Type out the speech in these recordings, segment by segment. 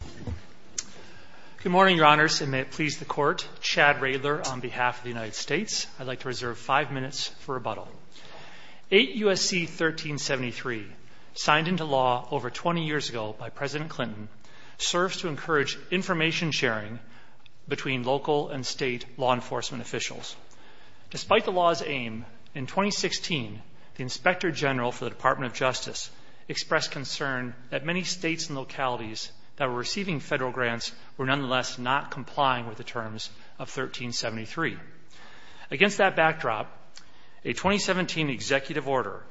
8 U.S.C. 1373, signed into law over 20 years ago by President Clinton, serves to encourage information sharing between local and state law enforcement officials. Despite the law's aim, in 2016, the Inspector General for the Department of Justice expressed concern that many states and localities that were receiving federal grants were nonetheless not complying with the terms of 1373. Against that backdrop, a 2017 Executive Order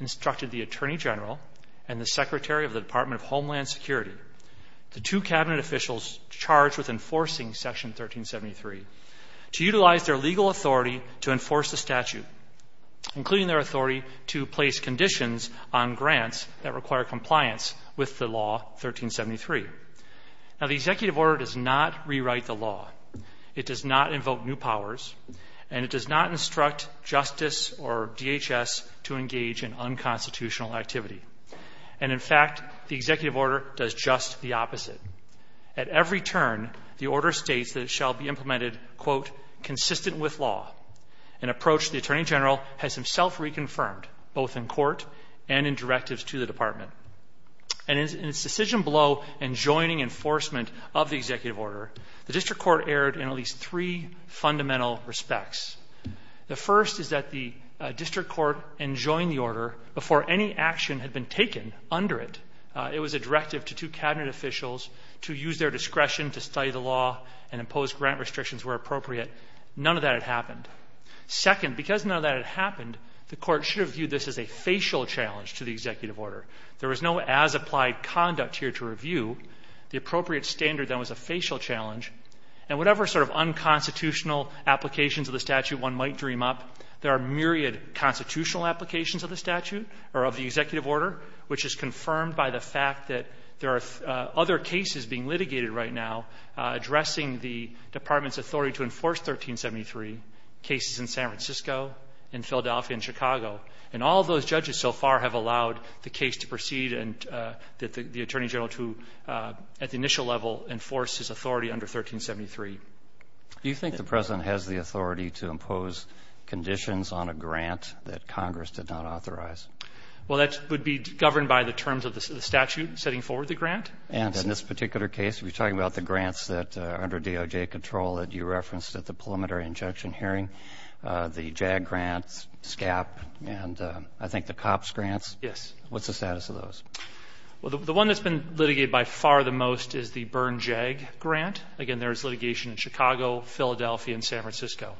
instructed the Attorney General and the Secretary of the Department of Homeland Security, the two Cabinet officials charged with enforcing Section 1373, to utilize their legal authority to enforce the statute, including their authority to place conditions on grants that require compliance with the law 1373. The Executive Order does not rewrite the law, it does not invoke new powers, and it does not instruct justice or DHS to engage in unconstitutional activity. In fact, the Executive Order does just the opposite. At every turn, the Order states that it shall be implemented, quote, consistent with law, an approach the Attorney General has himself reconfirmed, both in court and in directives to the Department. And in its decision blow in joining enforcement of the Executive Order, the District Court erred in at least three fundamental respects. The first is that the District Court enjoined the Order before any action had been taken under it. It was a directive to two Cabinet officials to use their discretion to study the law and Second, because none of that had happened, the Court should have viewed this as a facial challenge to the Executive Order. There was no as-applied conduct here to review. The appropriate standard, then, was a facial challenge. And whatever sort of unconstitutional applications of the statute one might dream up, there are myriad constitutional applications of the statute, or of the Executive Order, which is confirmed by the fact that there are other cases being litigated right now addressing the Department's authority to enforce 1373, cases in San Francisco, in Philadelphia, and Chicago. And all those judges so far have allowed the case to proceed and that the Attorney General to, at the initial level, enforce his authority under 1373. Do you think the President has the authority to impose conditions on a grant that Congress did not authorize? Well, that would be governed by the terms of the statute setting forward the grant. And in this particular case, we're talking about the grants that, under DOJ control, that you referenced at the preliminary injunction hearing, the JAG grants, SCAP, and I think the COPS grants. Yes. What's the status of those? Well, the one that's been litigated by far the most is the Byrne JAG grant. Again, there was litigation in Chicago, Philadelphia, and San Francisco.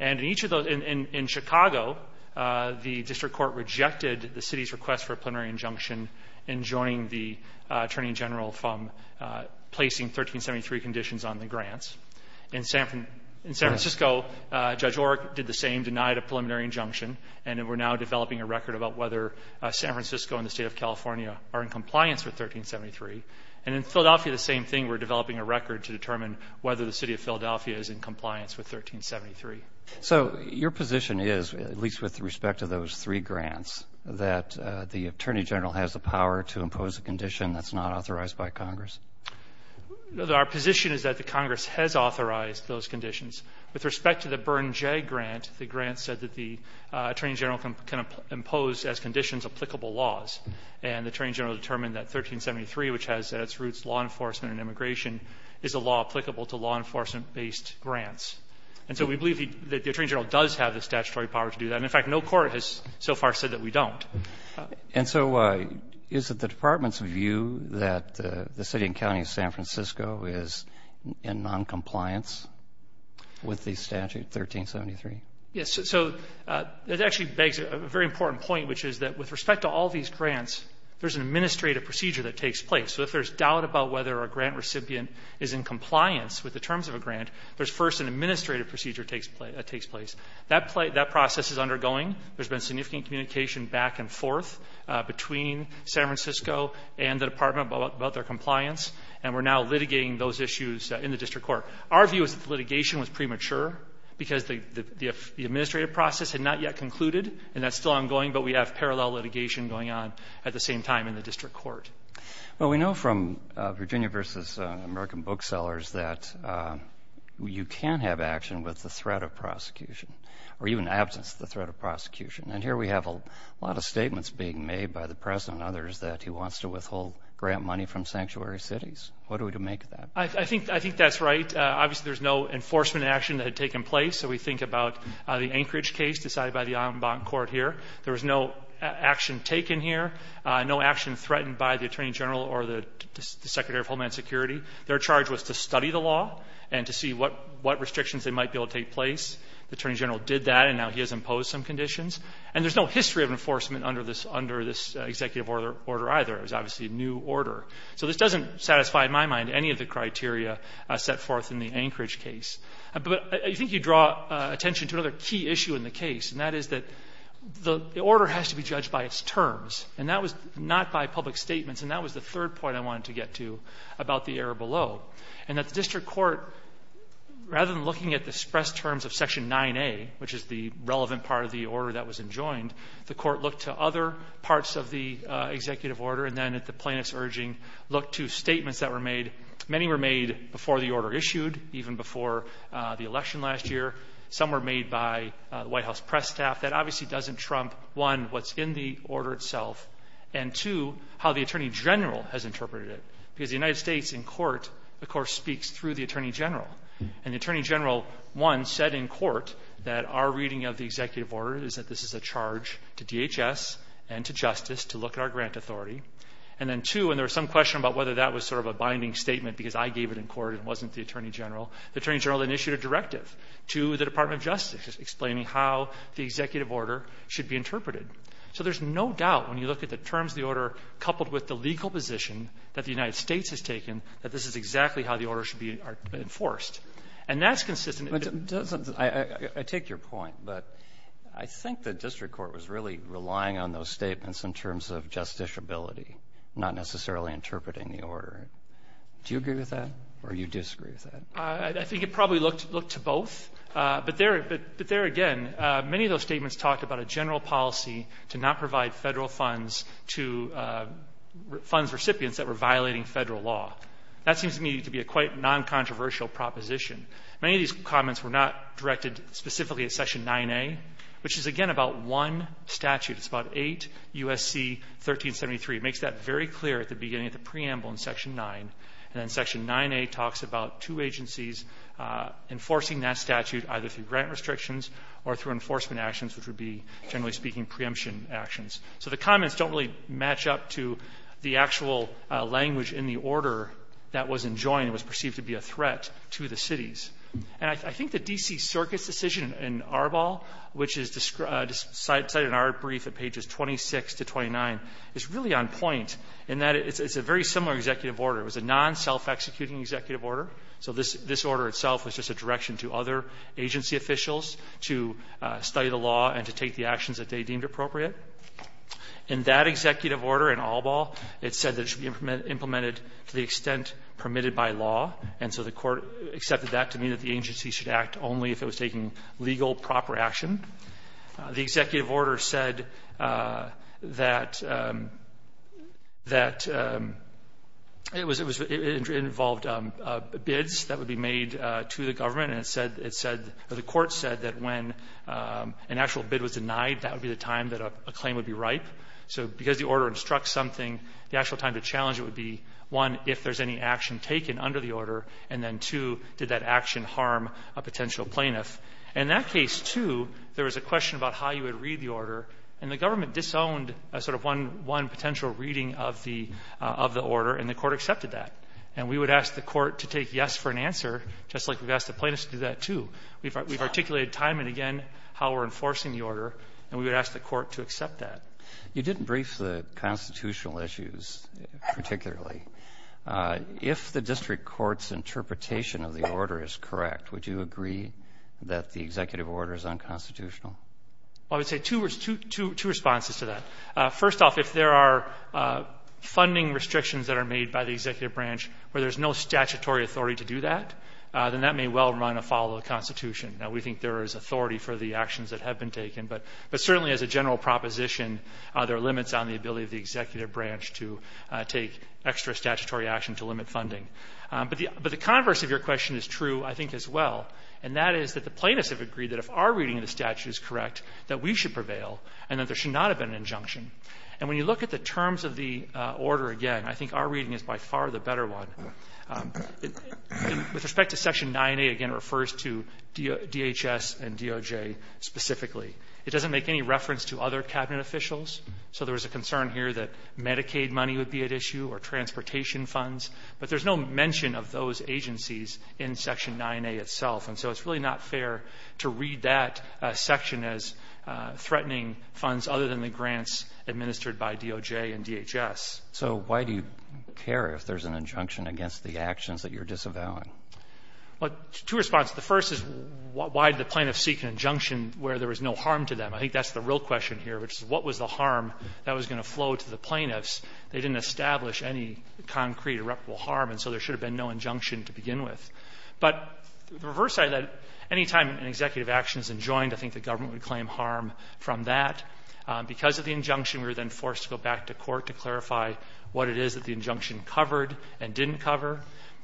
And in each of those, in Chicago, the District Court rejected the city's request for a plenary general from placing 1373 conditions on the grants. In San Francisco, Judge Orrick did the same, denied a preliminary injunction. And we're now developing a record about whether San Francisco and the state of California are in compliance with 1373. And in Philadelphia, the same thing. We're developing a record to determine whether the city of Philadelphia is in compliance with 1373. So your position is, at least with respect to those three grants, that the Attorney General has the power to impose a condition that's not authorized by Congress? Our position is that the Congress has authorized those conditions. With respect to the Byrne JAG grant, the grant said that the Attorney General can impose as conditions applicable laws. And the Attorney General determined that 1373, which has at its roots law enforcement and immigration, is a law applicable to law enforcement-based grants. And so we believe that the Attorney General does have the statutory power to do that. And in fact, no court has so far said that we don't. And so is it the Department's view that the city and county of San Francisco is in noncompliance with the statute 1373? Yes. So that actually begs a very important point, which is that with respect to all these grants, there's an administrative procedure that takes place. So if there's doubt about whether a grant recipient is in compliance with the terms of a grant, there's first an administrative procedure that takes place. That process is undergoing. There's been significant communication back and forth between San Francisco and the Department about their compliance. And we're now litigating those issues in the district court. Our view is that the litigation was premature because the administrative process had not yet concluded. And that's still ongoing, but we have parallel litigation going on at the same time in the district court. Well, we know from Virginia v. American Booksellers that you can have action with the threat of prosecution. And here we have a lot of statements being made by the President and others that he wants to withhold grant money from sanctuary cities. What are we to make of that? I think that's right. Obviously, there's no enforcement action that had taken place. So we think about the Anchorage case decided by the Alamban Court here. There was no action taken here, no action threatened by the Attorney General or the Secretary of Homeland Security. Their charge was to study the law and to see what restrictions they might be able to take place. The Attorney General did that, and now he has imposed some conditions. And there's no history of enforcement under this Executive Order either. It was obviously a new order. So this doesn't satisfy, in my mind, any of the criteria set forth in the Anchorage case. But I think you draw attention to another key issue in the case, and that is that the order has to be judged by its terms, and that was not by public statements. And that was the third point I wanted to get to about the error below, and that the district court, rather than looking at the expressed terms of Section 9A, which is the relevant part of the order that was enjoined, the court looked to other parts of the Executive Order and then, at the plaintiff's urging, looked to statements that were made. Many were made before the order issued, even before the election last year. Some were made by the White House press staff. That obviously doesn't trump, one, what's in the order itself, and two, how the Attorney General has interpreted it, because the United States in court, of course, speaks through the Attorney General. And the Attorney General, one, said in court that our reading of the Executive Order is that this is a charge to DHS and to justice to look at our grant authority. And then, two, and there was some question about whether that was sort of a binding statement because I gave it in court and it wasn't the Attorney General. The Attorney General initiated a directive to the Department of Justice explaining how the Executive Order should be interpreted. So there's no doubt, when you look at the terms of the order coupled with the legal position that the United States has taken, that this is exactly how the order should be enforced. And that's consistent... But doesn't... I take your point, but I think the district court was really relying on those statements in terms of justiciability, not necessarily interpreting the order. Do you agree with that or you disagree with that? I think it probably looked to both, but there again, many of those statements talked about a general policy to not provide federal funds to funds recipients that were violating federal law. That seems to me to be a quite non-controversial proposition. Many of these comments were not directed specifically at Section 9A, which is, again, about one statute. It's about 8 U.S.C. 1373. It makes that very clear at the beginning of the preamble in Section 9, and then Section 9A talks about two agencies enforcing that statute either through grant restrictions or through enforcement actions, which would be, generally speaking, preemption actions. So the comments don't really match up to the actual language in the order that was enjoined and was perceived to be a threat to the cities. And I think the D.C. Circuit's decision in Arbol, which is cited in our brief at pages 26 to 29, is really on point in that it's a very similar executive order. It was a non-self-executing executive order. So this order itself was just a direction to other agency officials to study the law and to take the actions that they deemed appropriate. In that executive order in Arbol, it said that it should be implemented to the extent permitted by law. And so the Court accepted that to mean that the agency should act only if it was taking legal, proper action. The executive order said that it was — it involved bids that would be made to the time that a claim would be ripe. So because the order instructs something, the actual time to challenge it would be, one, if there's any action taken under the order, and then, two, did that action harm a potential plaintiff. In that case, too, there was a question about how you would read the order. And the government disowned a sort of one — one potential reading of the — of the order, and the Court accepted that. And we would ask the Court to take yes for an answer, just like we've asked the plaintiffs to do that, too. We've articulated time and again how we're enforcing the order, and we would ask the Court to accept that. You didn't brief the constitutional issues particularly. If the district court's interpretation of the order is correct, would you agree that the executive order is unconstitutional? I would say two — two responses to that. First off, if there are funding restrictions that are made by the executive branch where there's no statutory authority to do that, then that may well run afoul of the Constitution. Now, we think there is authority for the actions that have been taken, but — but certainly as a general proposition, there are limits on the ability of the executive branch to take extra statutory action to limit funding. But the — but the converse of your question is true, I think, as well, and that is that the plaintiffs have agreed that if our reading of the statute is correct, that we should prevail and that there should not have been an injunction. And when you look at the terms of the order again, I think our reading is by far the better one. With respect to Section 9A, again, it refers to DHS and DOJ specifically. It doesn't make any reference to other Cabinet officials, so there was a concern here that Medicaid money would be at issue or transportation funds, but there's no mention of those agencies in Section 9A itself. And so it's really not fair to read that section as threatening funds other than the grants administered by DOJ and DHS. So why do you care if there's an injunction against the actions that you're disavowing? Well, two responses. The first is why did the plaintiffs seek an injunction where there was no harm to them? I think that's the real question here, which is what was the harm that was going to flow to the plaintiffs? They didn't establish any concrete irreparable harm, and so there should have been no injunction to begin with. But the reverse side of that, any time an executive action is enjoined, I think the government would claim harm from that. Because of the injunction, we were then forced to go back to court to clarify what it is that the injunction covered and didn't cover.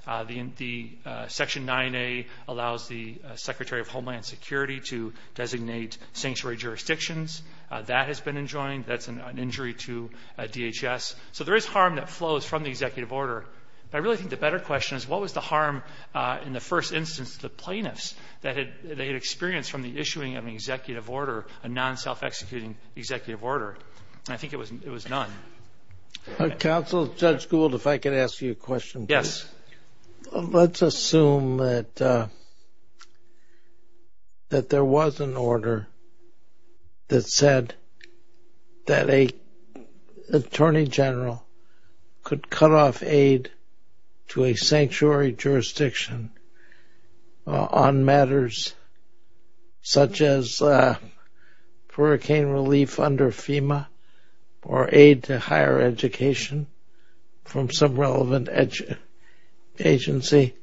The Section 9A allows the Secretary of Homeland Security to designate sanctuary jurisdictions. That has been enjoined. That's an injury to DHS. So there is harm that flows from the executive order, but I really think the better question is what was the harm in the first instance to the plaintiffs that they had experienced from the issuing of an executive order, a non-self-executing executive order? And I think it was none. Counsel, Judge Gould, if I could ask you a question, please. Yes. Let's assume that there was an order that said that an Attorney General could cut off aid to a sanctuary jurisdiction on matters such as hurricane relief under FEMA or aid to higher education from some relevant agency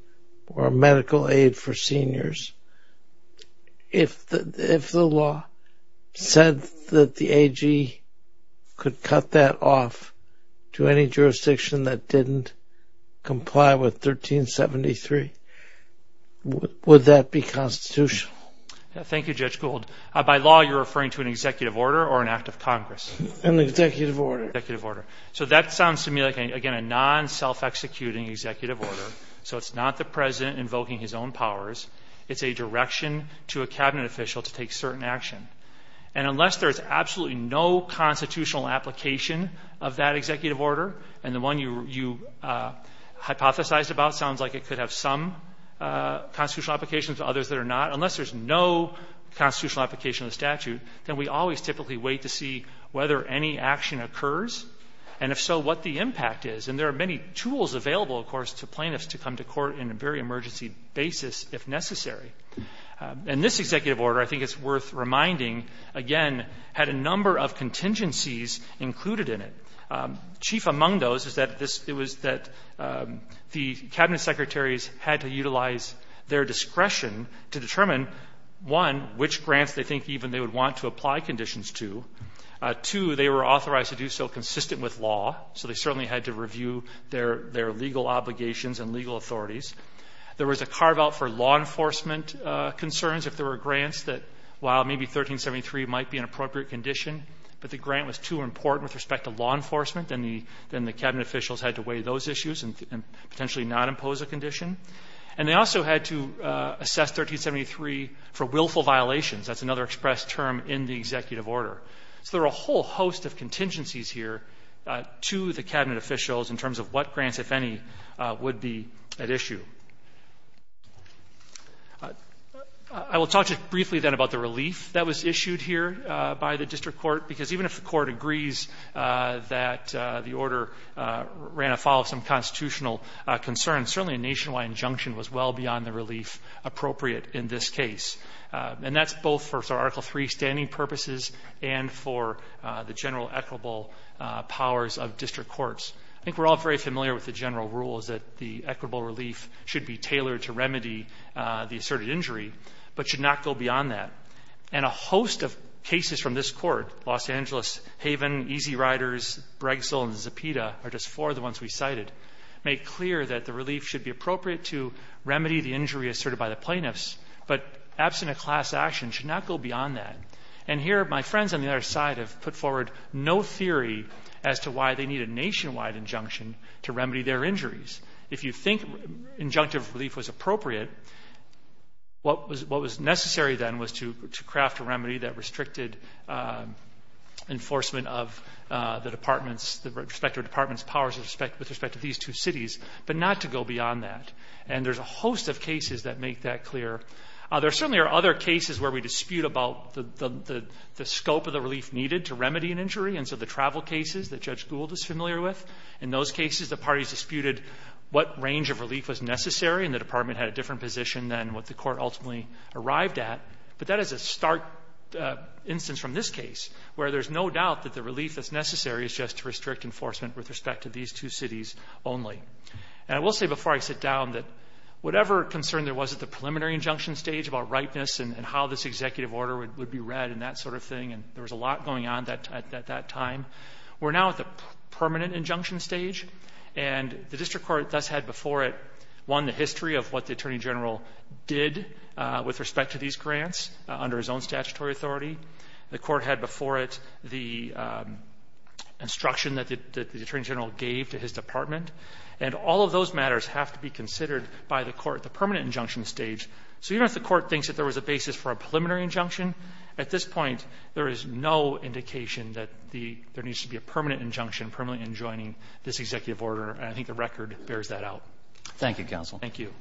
or medical aid for seniors. If the law said that the AG could cut that off to any jurisdiction that didn't comply with 1373, would that be constitutional? Thank you, Judge Gould. By law, you're referring to an executive order or an act of Congress? An executive order. An executive order. So that sounds to me like, again, a non-self-executing executive order. So it's not the President invoking his own powers. It's a direction to a Cabinet official to take certain action. And unless there's absolutely no constitutional application of that executive order, and the one you hypothesized about sounds like it could have some constitutional application to others that are not, unless there's no constitutional application of the statute, then we always typically wait to see whether any action occurs, and if so, what the impact is. And there are many tools available, of course, to plaintiffs to come to court in a very necessary. And this executive order, I think it's worth reminding, again, had a number of contingencies included in it. Chief among those is that it was that the Cabinet secretaries had to utilize their discretion to determine, one, which grants they think even they would want to apply conditions to, two, they were authorized to do so consistent with law, so they certainly had to review their legal obligations and legal authorities. There was a carve-out for law enforcement concerns if there were grants that, while maybe 1373 might be an appropriate condition, but the grant was too important with respect to law enforcement, then the Cabinet officials had to weigh those issues and potentially not impose a condition. And they also had to assess 1373 for willful violations. That's another expressed term in the executive order. So there are a whole host of contingencies here to the Cabinet officials in terms of what grants, if any, would be at issue. I will talk to you briefly then about the relief that was issued here by the district court, because even if the court agrees that the order ran afoul of some constitutional concerns, certainly a nationwide injunction was well beyond the relief appropriate in this case. And that's both for Article III standing purposes and for the general equitable powers of district courts. I think we're all very familiar with the general rule is that the equitable relief should be tailored to remedy the asserted injury, but should not go beyond that. And a host of cases from this court, Los Angeles, Haven, Easy Riders, Bregsel, and Zepeda are just four of the ones we cited, make clear that the relief should be appropriate to remedy the injury asserted by the plaintiffs, but absent a class action should not go beyond that. And here, my friends on the other side have put forward no theory as to why they need a nationwide injunction to remedy their injuries. If you think injunctive relief was appropriate, what was necessary then was to craft a remedy that restricted enforcement of the department's, the respective department's powers with respect to these two cities, but not to go beyond that. And there's a host of cases that make that clear. There certainly are other cases where we dispute about the scope of the relief needed to remedy an injury. And so the travel cases that Judge Gould is familiar with, in those cases the parties disputed what range of relief was necessary, and the department had a different position than what the court ultimately arrived at. But that is a stark instance from this case, where there's no doubt that the relief that's necessary is just to restrict enforcement with respect to these two cities only. And I will say before I sit down that whatever concern there was at the preliminary injunction stage about ripeness and how this executive order would be read and that sort of thing, and there was a lot going on at that time, we're now at the permanent injunction stage. And the district court thus had before it, one, the history of what the attorney general did with respect to these grants under his own statutory authority. The court had before it the instruction that the attorney general gave to his department. And all of those matters have to be considered by the court at the permanent injunction stage. So even if the court thinks that there was a basis for a preliminary injunction, at this point, there is no indication that there needs to be a permanent injunction permanently enjoining this executive order. And I think the record bears that out. Thank you, counsel. Thank you.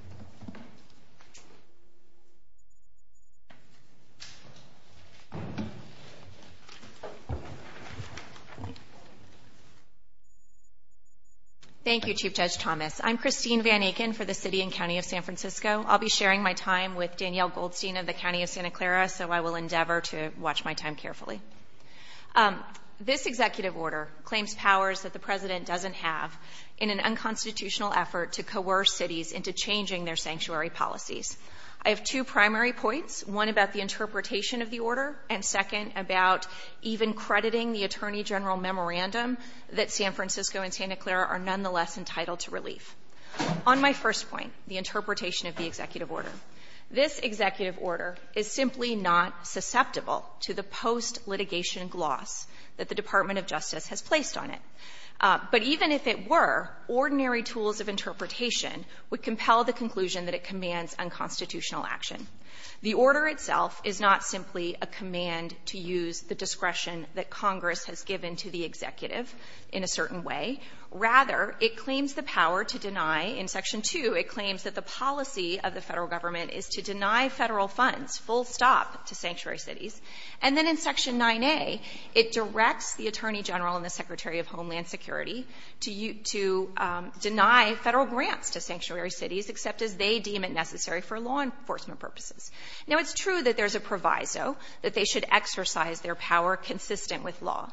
Thank you, Chief Judge Thomas. I'm Christine Van Aken for the City and County of San Francisco. I'll be sharing my time with Danielle Goldstein of the County of Santa Clara, so I will endeavor to watch my time carefully. This executive order claims powers that the President doesn't have in an unconstitutional effort to coerce cities into changing their sanctuary policies. I have two primary points, one about the interpretation of the order, and second, about even crediting the attorney general memorandum that San Francisco and Santa Clara are nonetheless entitled to relief. On my first point, the interpretation of the executive order. This executive order is simply not susceptible to the post-litigation gloss that the Department of Justice has placed on it. But even if it were, ordinary tools of interpretation would compel the conclusion that it commands unconstitutional action. The order itself is not simply a command to use the discretion that Congress has given to the executive in a certain way. Rather, it claims the power to deny, in Section 2, it claims that the policy of the federal government is to deny federal funds full stop to sanctuary cities. And then in Section 9A, it directs the attorney general and the Secretary of Homeland Security to deny federal grants to sanctuary cities, except as they deem it necessary for law enforcement purposes. Now, it's true that there's a proviso that they should exercise their power consistent with law.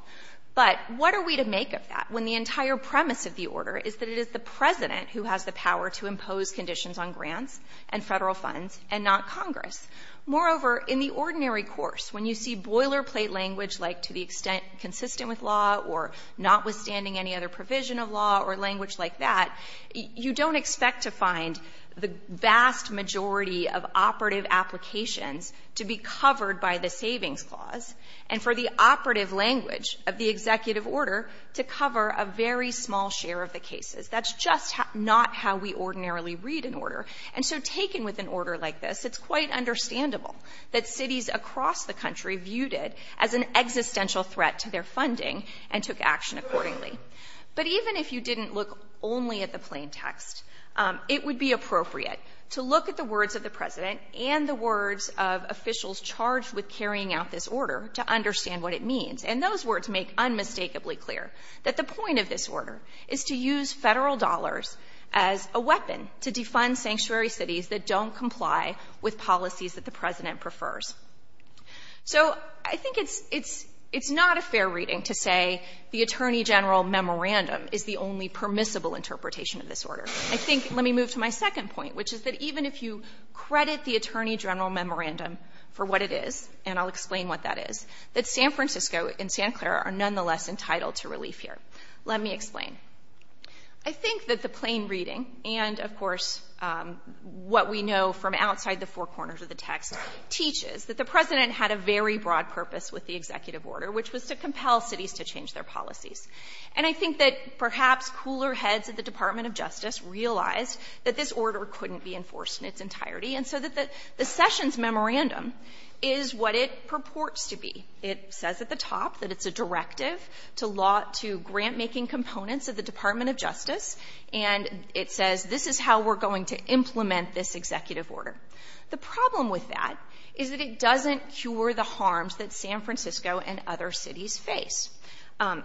But what are we to make of that when the entire premise of the order is that it is the President who has the power to impose conditions on grants and federal funds and not Congress? Moreover, in the ordinary course, when you see boilerplate language like to the extent consistent with law or notwithstanding any other provision of law or language like that, you don't expect to find the vast majority of operative applications to be covered by the savings clause, and for the operative language of the executive order to cover a very small share of the cases. That's just not how we ordinarily read an order. And so taken with an order like this, it's quite understandable that cities across the country viewed it as an existential threat to their funding and took action accordingly. But even if you didn't look only at the plain text, it would be appropriate to look at the words of the President and the words of officials charged with carrying out this order to understand what it means. And those words make unmistakably clear that the point of this order is to use federal dollars as a weapon to defund sanctuary cities that don't comply with policies that the President prefers. So I think it's not a fair reading to say the Attorney General memorandum is the only permissible interpretation of this order. I think let me move to my second point, which is that even if you credit the Attorney General memorandum for what it is, and I'll explain what that is, that San Francisco and San Clara are nonetheless entitled to relief here. Let me explain. I think that the plain reading and, of course, what we know from outside the four corners of the text teaches that the President had a very broad purpose with the executive order, which was to compel cities to change their policies. And I think that perhaps cooler heads at the Department of Justice realized that this order couldn't be enforced in its entirety and so that the Sessions memorandum is what it purports to be. It says at the top that it's a directive to grant-making components of the Department of Justice, and it says this is how we're going to implement this executive order. The problem with that is that it doesn't cure the harms that San Francisco and other cities face.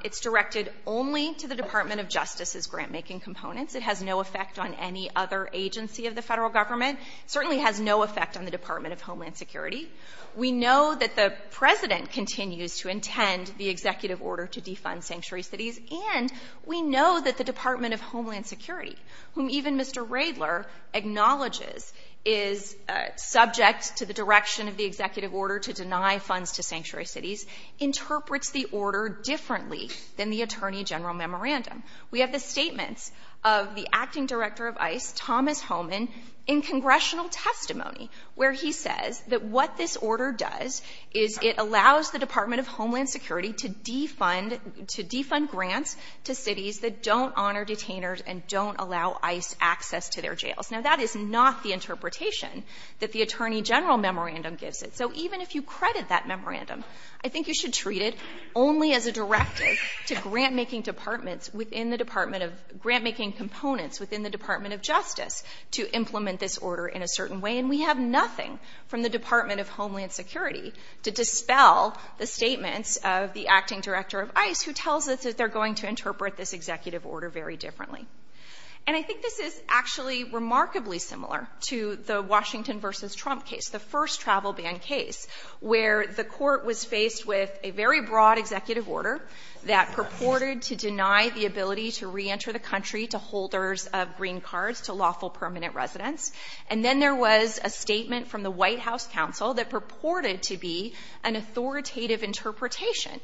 It's directed only to the Department of Justice's grant-making components. It has no effect on any other agency of the federal government. It certainly has no effect on the Department of Homeland Security. We know that the President continues to intend the executive order to defund sanctuary cities, and we know that the Department of Homeland Security, whom even Mr. Radler acknowledges is subject to the direction of the executive order to deny funds to sanctuary cities, interprets the order differently than the Attorney General memorandum. We have the statements of the acting director of ICE, Thomas Homan, in congressional testimony, where he says that what this order does is it allows the Department of Homeland Security to defund to defund grants to cities that don't honor detainers and don't allow ICE access to their jails. Now, that is not the interpretation that the Attorney General memorandum gives it. So even if you credit that memorandum, I think you should treat it only as a directive to grant-making departments within the Department of grant-making components within the Department of Justice to implement this order in a certain way. And we have nothing from the Department of Homeland Security to dispel the statements of the acting director of ICE, who tells us that they're going to interpret this executive order very differently. And I think this is actually remarkably similar to the Washington v. Trump case, the first travel ban case, where the court was faced with a very broad executive order that purported to deny the ability to reenter the country to holders of green cards to lawful permanent residents. And then there was a statement from the White House counsel that purported to be an authoritative interpretation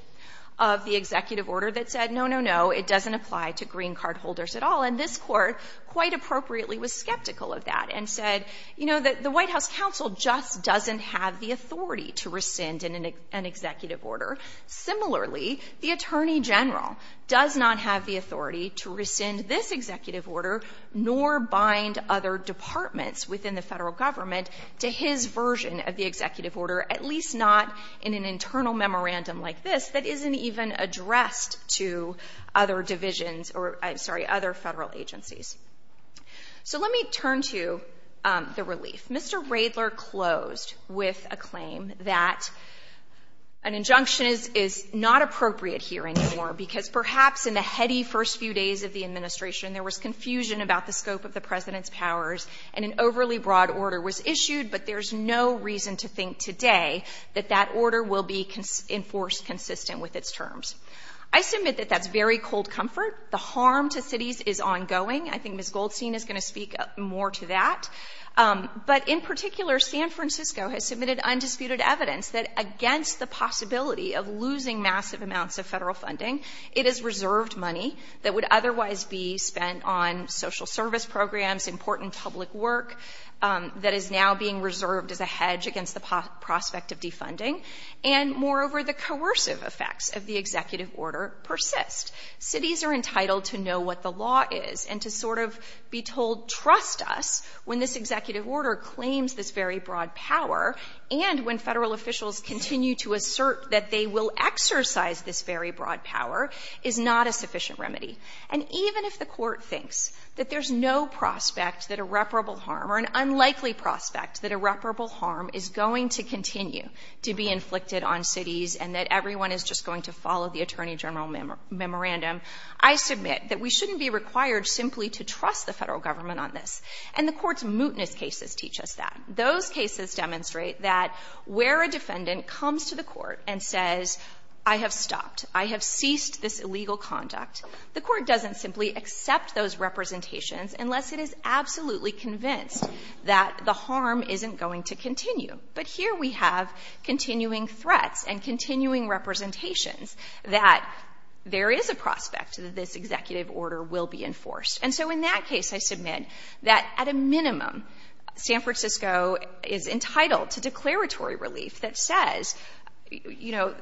of the executive order that said, no, no, no, it doesn't apply to green card holders at all. And this court, quite appropriately, was skeptical of that and said, you know, the White House counsel just doesn't have the authority to rescind an executive order. Similarly, the Attorney General does not have the authority to rescind this executive order, nor bind other departments within the Federal government to his version of the executive order, at least not in an internal memorandum like this that isn't even addressed to other divisions or, I'm sorry, other Federal agencies. So let me turn to the relief. Mr. Radler closed with a claim that an injunction is not appropriate here anymore, because perhaps in the heady first few days of the administration, there was confusion about the scope of the President's powers, and an overly broad order was issued, but there's no reason to think today that that order will be enforced consistent with its terms. I submit that that's very cold comfort. The harm to cities is ongoing. I think Ms. Goldstein is going to speak more to that. But in particular, San Francisco has submitted undisputed evidence that against the possibility of losing massive amounts of Federal funding, it is reserved money that would otherwise be spent on social service programs, important public work that is now being reserved as a hedge against the prospect of defunding, and, moreover, the coercive effects of the executive order persist. Cities are entitled to know what the law is and to sort of be told, trust us, when this executive order claims this very broad power, and when Federal officials continue to assert that they will exercise this very broad power, is not a sufficient remedy. And even if the Court thinks that there's no prospect that irreparable harm or an unlikely prospect that irreparable harm is going to continue to be inflicted on cities and that everyone is just going to follow the Attorney General memorandum, I submit that we shouldn't be required simply to trust the Federal Government on this. And the Court's mootness cases teach us that. Those cases demonstrate that where a defendant comes to the Court and says, I have stopped, I have ceased this illegal conduct, the Court doesn't simply accept those representations unless it is absolutely convinced that the harm isn't going to continue. But here we have continuing threats and continuing representations that there is a prospect that this executive order will be enforced. And so in that case, I submit that at a minimum, San Francisco is entitled to declaratory relief that says, you know,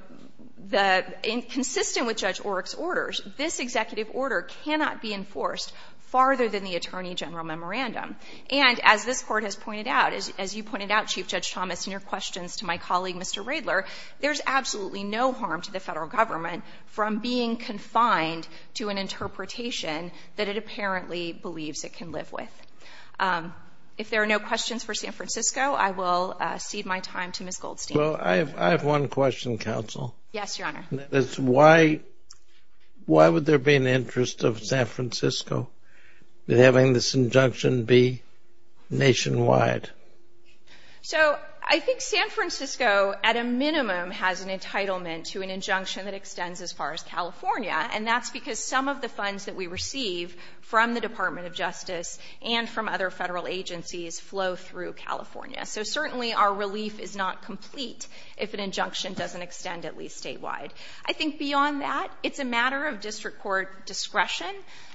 consistent with Judge Oryk's orders, this executive order cannot be enforced farther than the Attorney General memorandum. And as this Court has pointed out, as you pointed out, Chief Judge Thomas, in your questions to my colleague, Mr. Radler, there's absolutely no harm to the Federal Government from being confined to an interpretation that it apparently believes it can live with. If there are no questions for San Francisco, I will cede my time to Ms. Goldstein. Well, I have one question, counsel. Yes, Your Honor. That is, why would there be an interest of San Francisco in having this injunction be nationwide? So I think San Francisco, at a minimum, has an entitlement to an injunction that extends as far as California, and that's because some of the funds that we receive from the Department of Justice and from other Federal agencies flow through California. So certainly our relief is not complete if an injunction doesn't extend at least statewide. I think beyond that, it's a matter of district court discretion.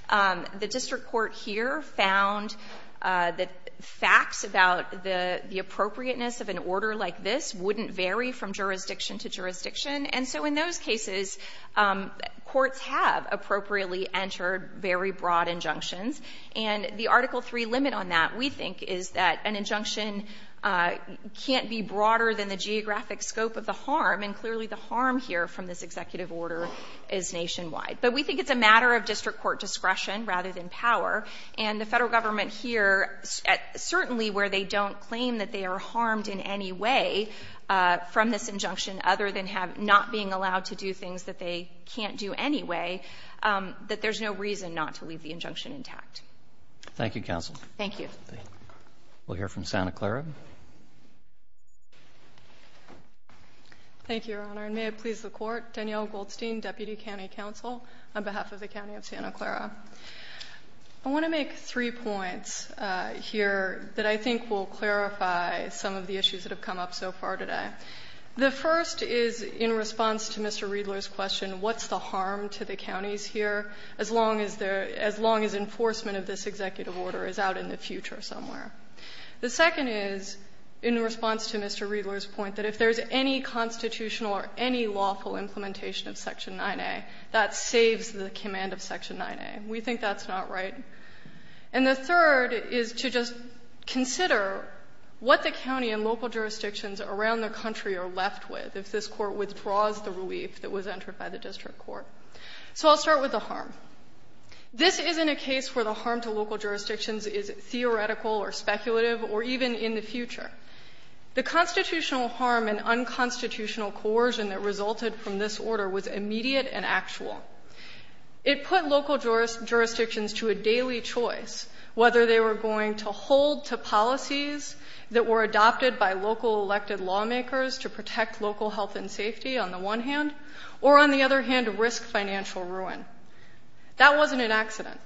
The district court here found that facts about the appropriateness of an order like this wouldn't vary from jurisdiction to jurisdiction. And so in those cases, courts have appropriately entered very broad injunctions. And the Article III limit on that, we think, is that an injunction can't be broader than the geographic scope of the harm, and clearly the harm here from this executive order is nationwide. But we think it's a matter of district court discretion rather than power. And the Federal Government here, certainly where they don't claim that they are harmed in any way from this injunction other than not being allowed to do things that they can't do anyway, that there's no reason not to leave the injunction intact. Thank you, counsel. Thank you. We'll hear from Santa Clara. Thank you, Your Honor. And may it please the Court, Danielle Goldstein, Deputy County Counsel, on behalf of the County of Santa Clara. I want to make three points here that I think will clarify some of the issues that have come up so far today. The first is, in response to Mr. Riedler's question, what's the harm to the counties here as long as enforcement of this executive order is out in the future somewhere? The second is, in response to Mr. Riedler's point, that if there's any constitutional or any lawful implementation of Section 9a, that saves the command of Section 9a. We think that's not right. And the third is to just consider what the county and local jurisdictions around the country are left with if this Court withdraws the relief that was entered by the district court. So I'll start with the harm. This isn't a case where the harm to local jurisdictions is theoretical or speculative or even in the future. The constitutional harm and unconstitutional coercion that resulted from this order was immediate and actual. It put local jurisdictions to a daily choice whether they were going to hold to policies that were adopted by local elected lawmakers to protect local health and safety on the one hand, or on the other hand, risk financial ruin. That wasn't an accident.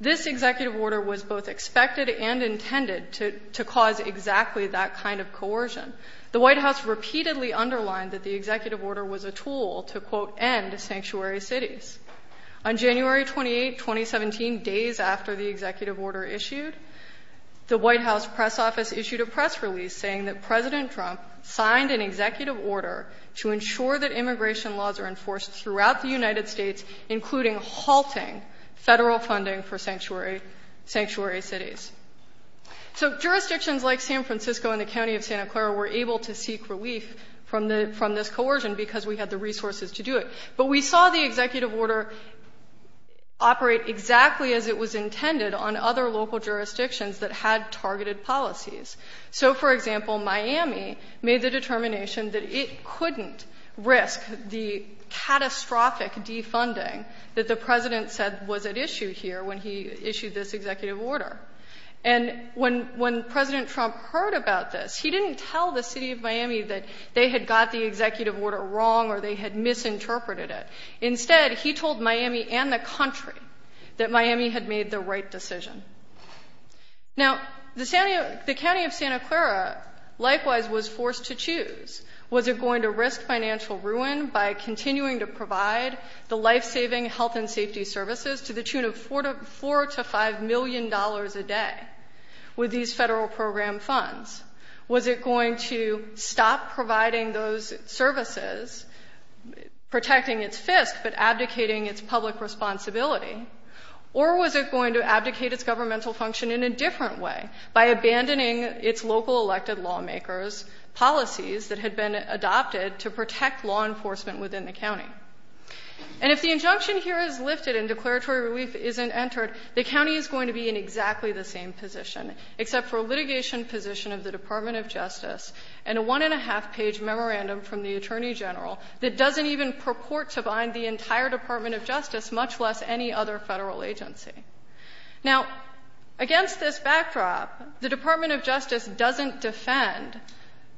This executive order was both expected and intended to cause exactly that kind of coercion. The White House repeatedly underlined that the executive order was a tool to, quote, end sanctuary cities. On January 28, 2017, days after the executive order issued, the White House press office issued a press release saying that President Trump signed an executive order to ensure that immigration laws are enforced throughout the United States, including halting federal funding for sanctuary cities. So jurisdictions like San Francisco and the county of Santa Clara were able to seek relief from this coercion because we had the resources to do it. But we saw the executive order operate exactly as it was intended on other local jurisdictions that had targeted policies. So for example, Miami made the determination that it couldn't risk the catastrophic defunding that the president said was at issue here when he issued this executive order. And when President Trump heard about this, he didn't tell the city of Miami that they had got the executive order wrong or they had misinterpreted it. Instead, he told Miami and the country that Miami had made the right decision. Now, the county of Santa Clara likewise was forced to choose. Was it going to risk financial ruin by continuing to provide the life-saving health and safety services to the tune of $4 to $5 million a day with these federal program funds? Was it going to stop providing those services, protecting its fist, but abdicating its public responsibility? Or was it going to abdicate its governmental function in a different way by abandoning its local elected lawmakers' policies that had been adopted to protect law enforcement within the county? And if the injunction here is lifted and declaratory relief isn't entered, the county is going to be in exactly the same position, except for a litigation position of the Department of Justice and a one-and-a-half-page memorandum from the Attorney General that doesn't even purport to bind the entire Department of Justice, much less any other federal agency. Now, against this backdrop, the Department of Justice doesn't defend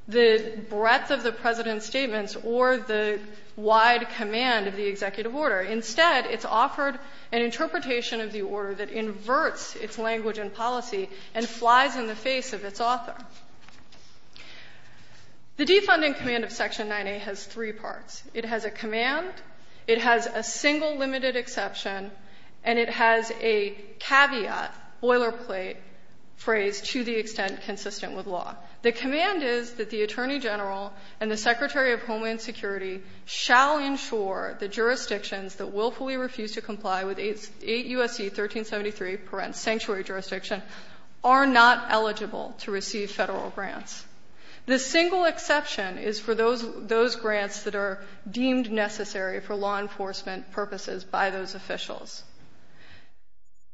the breadth of the President's statements or the wide command of the executive order. Instead, it's offered an interpretation of the order that inverts its language and policy and flies in the face of its author. The defunding command of Section 9A has three parts. It has a command, it has a single limited exception, and it has a caveat, boilerplate phrase to the extent consistent with law. The command is that the Attorney General and the Secretary of Homeland Security shall ensure the jurisdictions that willfully refuse to comply with 8 U.S.C. 1373 parent sanctuary jurisdiction are not eligible to receive federal grants. The single exception is for those grants that are deemed necessary for law enforcement purposes by those officials.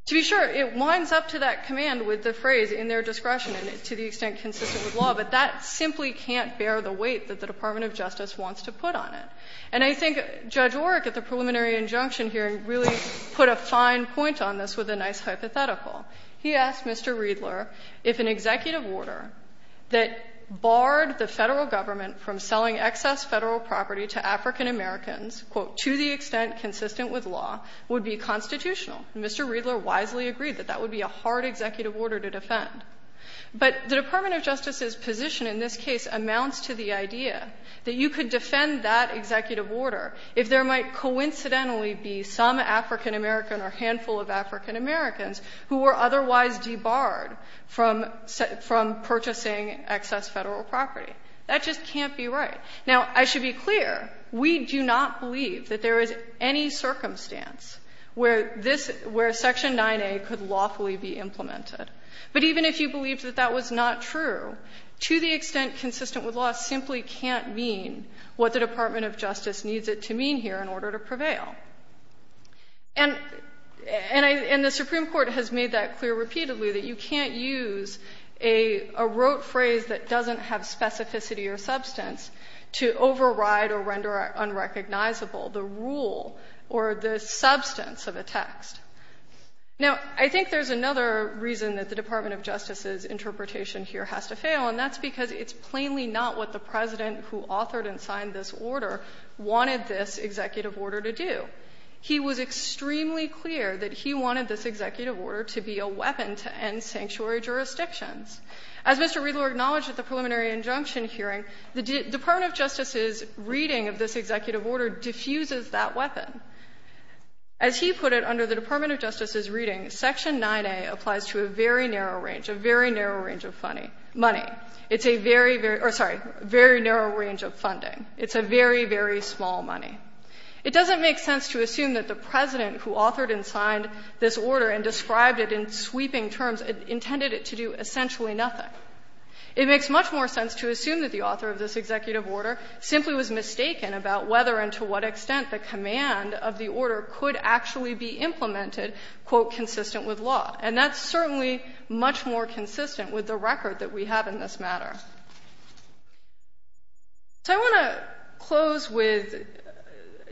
To be sure, it winds up to that command with the phrase, in their discretion, to the extent consistent with law, but that simply can't bear the weight that the Department of Justice wants to put on it. And I think Judge Oreck, at the preliminary injunction hearing, really put a fine point on this with a nice hypothetical. He asked Mr. Riedler if an executive order that barred the Federal Government from selling excess Federal property to African Americans, quote, to the extent consistent with law, would be constitutional. And Mr. Riedler wisely agreed that that would be a hard executive order to defend. But the Department of Justice's position in this case amounts to the idea that you could defend that executive order if there might coincidentally be some African American or handful of African Americans who were otherwise debarred from purchasing excess Federal property. That just can't be right. Now, I should be clear, we do not believe that there is any circumstance where Section 9A could lawfully be implemented. But even if you believed that that was not true, to the extent consistent with law simply can't mean what the Department of Justice needs it to mean here in order to prevail. And the Supreme Court has made that clear repeatedly, that you can't use a rote phrase that doesn't have specificity or substance to override or render unrecognizable the rule or the substance of a text. Now, I think there's another reason that the Department of Justice's interpretation here has to fail, and that's because it's plainly not what the President, who authored and signed this order, wanted this executive order to do. He was extremely clear that he wanted this executive order to be a weapon to end sanctuary jurisdictions. As Mr. Riedler acknowledged at the preliminary injunction hearing, the Department of Justice's reading of this executive order diffuses that weapon. As he put it under the Department of Justice's reading, Section 9A applies to a very narrow range, a very narrow range of money. It's a very, very or, sorry, very narrow range of funding. It's a very, very small money. It doesn't make sense to assume that the President, who authored and signed this order and described it in sweeping terms, intended it to do essentially nothing. It makes much more sense to assume that the author of this executive order simply was mistaken about whether and to what extent the command of the order could actually be implemented, quote, consistent with law. And that's certainly much more consistent with the record that we have in this matter. So I want to close with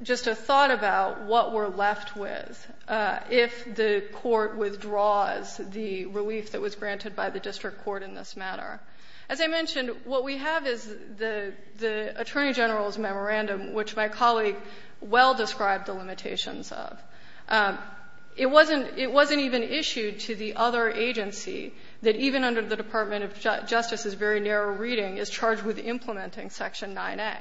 just a thought about what we're left with if the Court withdraws the relief that was granted by the district court in this matter. As I mentioned, what we have is the Attorney General's memorandum, which my colleague well described the limitations of. It wasn't even issued to the other agency that even under the Department of Justice's very narrow reading is charged with implementing Section 9A.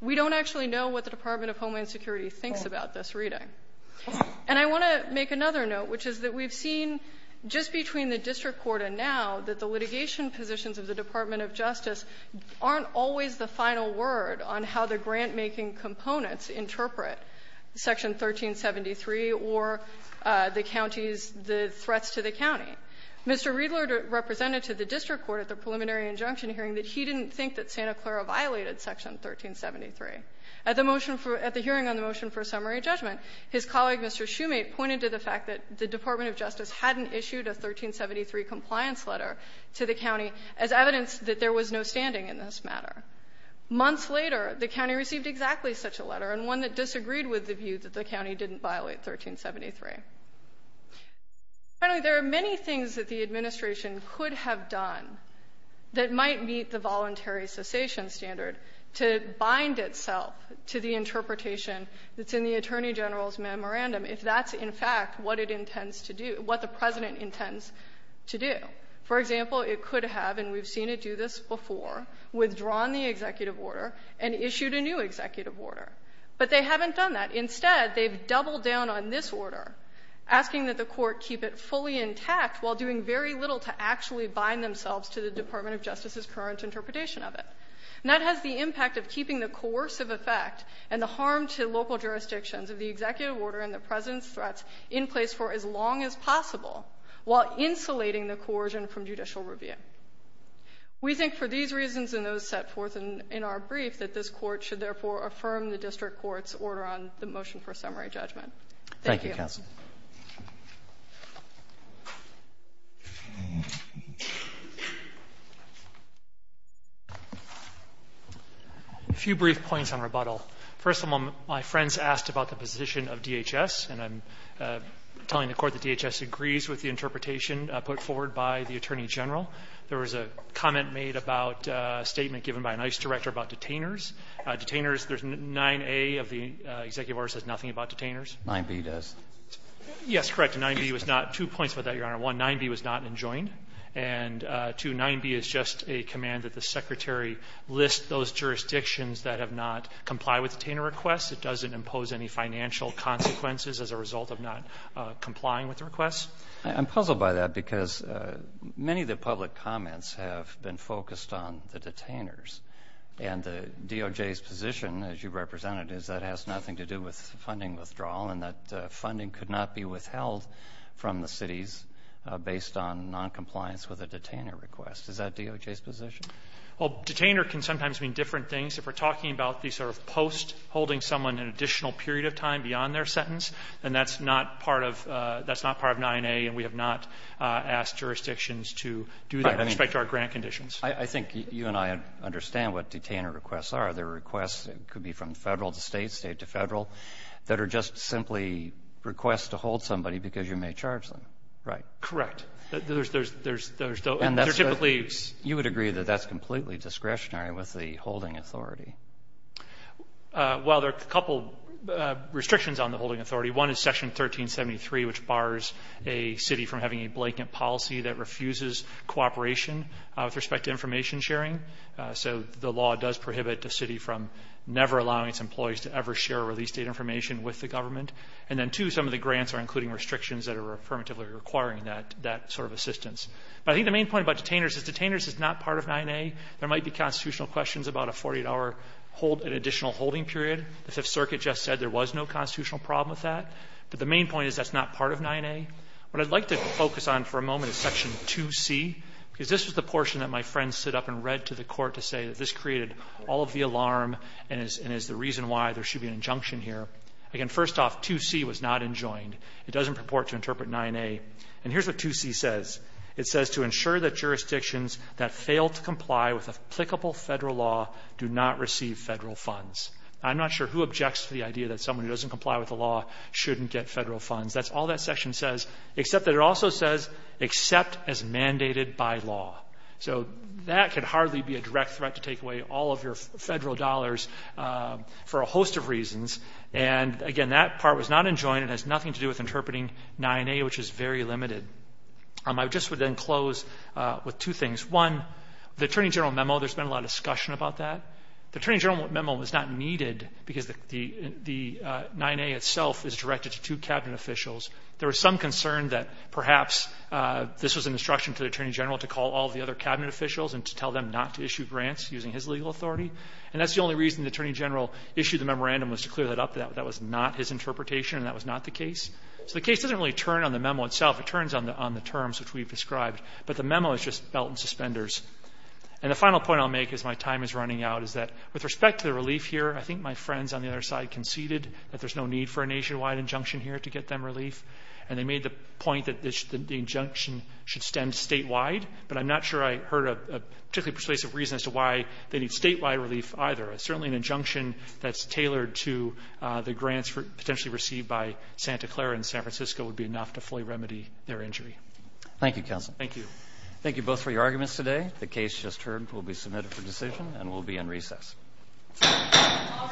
We don't actually know what the Department of Homeland Security thinks about this reading. And I want to make another note, which is that we've seen just between the district court and now that the litigation positions of the Department of Justice aren't always the final word on how the grantmaking components interpret Section 1373 or the county's the threats to the county. Mr. Riedler represented to the district court at the preliminary injunction hearing that he didn't think that Santa Clara violated Section 1373. At the motion for at the hearing on the motion for summary judgment, his colleague Mr. Shoemate pointed to the fact that the Department of Justice hadn't issued a 1373 compliance letter to the county as evidence that there was no standing in this matter. Months later, the county received exactly such a letter and one that disagreed with the view that the county didn't violate 1373. Finally, there are many things that the administration could have done that might meet the voluntary cessation standard to bind itself to the interpretation that's in the Attorney General's memorandum if that's in fact what it intends to do, what the President intends to do. For example, it could have, and we've seen it do this before, withdrawn the executive order and issued a new executive order. But they haven't done that. Instead, they've doubled down on this order, asking that the court keep it fully intact while doing very little to actually bind themselves to the Department of Justice's current interpretation of it. And that has the impact of keeping the coercive effect and the harm to local jurisdictions of the executive order and the President's threats in place for as long as possible while insulating the coercion from judicial review. We think for these reasons and those set forth in our brief that this court should therefore affirm the district court's order on the motion for summary judgment. Thank you. Thank you, counsel. A few brief points on rebuttal. First of all, my friends asked about the position of DHS, and I'm telling the court that DHS agrees with the interpretation put forward by the Attorney General. There was a comment made about a statement given by an ICE director about detainers. Detainers, there's 9A of the executive order says nothing about detainers. 9B does. Yes, correct. 9B was not, two points about that, Your Honor. One, 9B was not enjoined. And two, 9B is just a command that the Secretary list those jurisdictions that have not complied with detainer requests. It doesn't impose any financial consequences as a result of not complying with the requests. I'm puzzled by that because many of the public comments have been focused on the detainers. And the DOJ's position, as you represented, is that has nothing to do with funding withdrawal and that funding could not be withheld from the cities based on noncompliance with a detainer request. Is that DOJ's position? Well, detainer can sometimes mean different things. If we're talking about the sort of post-holding someone an additional period of time beyond their sentence, then that's not part of 9A and we have not asked jurisdictions to do that with respect to our grant conditions. I think you and I understand what detainer requests are. They're requests, it could be from Federal to State, State to Federal, that are just simply requests to hold somebody because you may charge them, right? Correct. There's no, they're typically. You would agree that that's completely discretionary with the holding authority? Well, there are a couple restrictions on the holding authority. One is Section 1373, which bars a city from having a blanket policy that refuses cooperation with respect to information sharing. So the law does prohibit the city from never allowing its employees to ever share release date information with the government. And then two, some of the grants are including restrictions that are affirmatively requiring that sort of assistance. But I think the main point about detainers is detainers is not part of 9A. There might be constitutional questions about a 48-hour hold, an additional holding period. The Fifth Circuit just said there was no constitutional problem with that. But the main point is that's not part of 9A. What I'd like to focus on for a moment is Section 2C, because this was the portion that my friend stood up and read to the Court to say that this created all of the alarm and is the reason why there should be an injunction here. Again, first off, 2C was not enjoined. It doesn't purport to interpret 9A. And here's what 2C says. It says to ensure that jurisdictions that fail to comply with applicable federal law do not receive federal funds. I'm not sure who objects to the idea that someone who doesn't comply with the law shouldn't get federal funds. That's all that section says, except that it also says, except as mandated by law. So that could hardly be a direct threat to take away all of your federal dollars for a host of reasons. And again, that part was not enjoined. It has nothing to do with interpreting 9A, which is very limited. I just would then close with two things. One, the Attorney General memo, there's been a lot of discussion about that. The Attorney General memo was not needed because the 9A itself is directed to two Cabinet officials. There was some concern that perhaps this was an instruction to the Attorney General to call all the other Cabinet officials and to tell them not to issue grants using his legal authority. And that's the only reason the Attorney General issued the memorandum was to clear that up. That was not his interpretation and that was not the case. So the case doesn't really turn on the memo itself. It turns on the terms which we've described. But the memo is just belt and suspenders. And the final point I'll make as my time is running out is that with respect to the relief here, I think my friends on the other side conceded that there's no need for a nationwide injunction here to get them relief. And they made the point that the injunction should stand statewide. But I'm not sure I heard a particularly persuasive reason as to why they need statewide relief either. Certainly an injunction that's tailored to the grants potentially received by Santa Clara and San Francisco would be enough to fully remedy their injury. Thank you, Counsel. Thank you. Thank you both for your arguments today. The case just heard will be submitted for decision and will be in recess. All rise.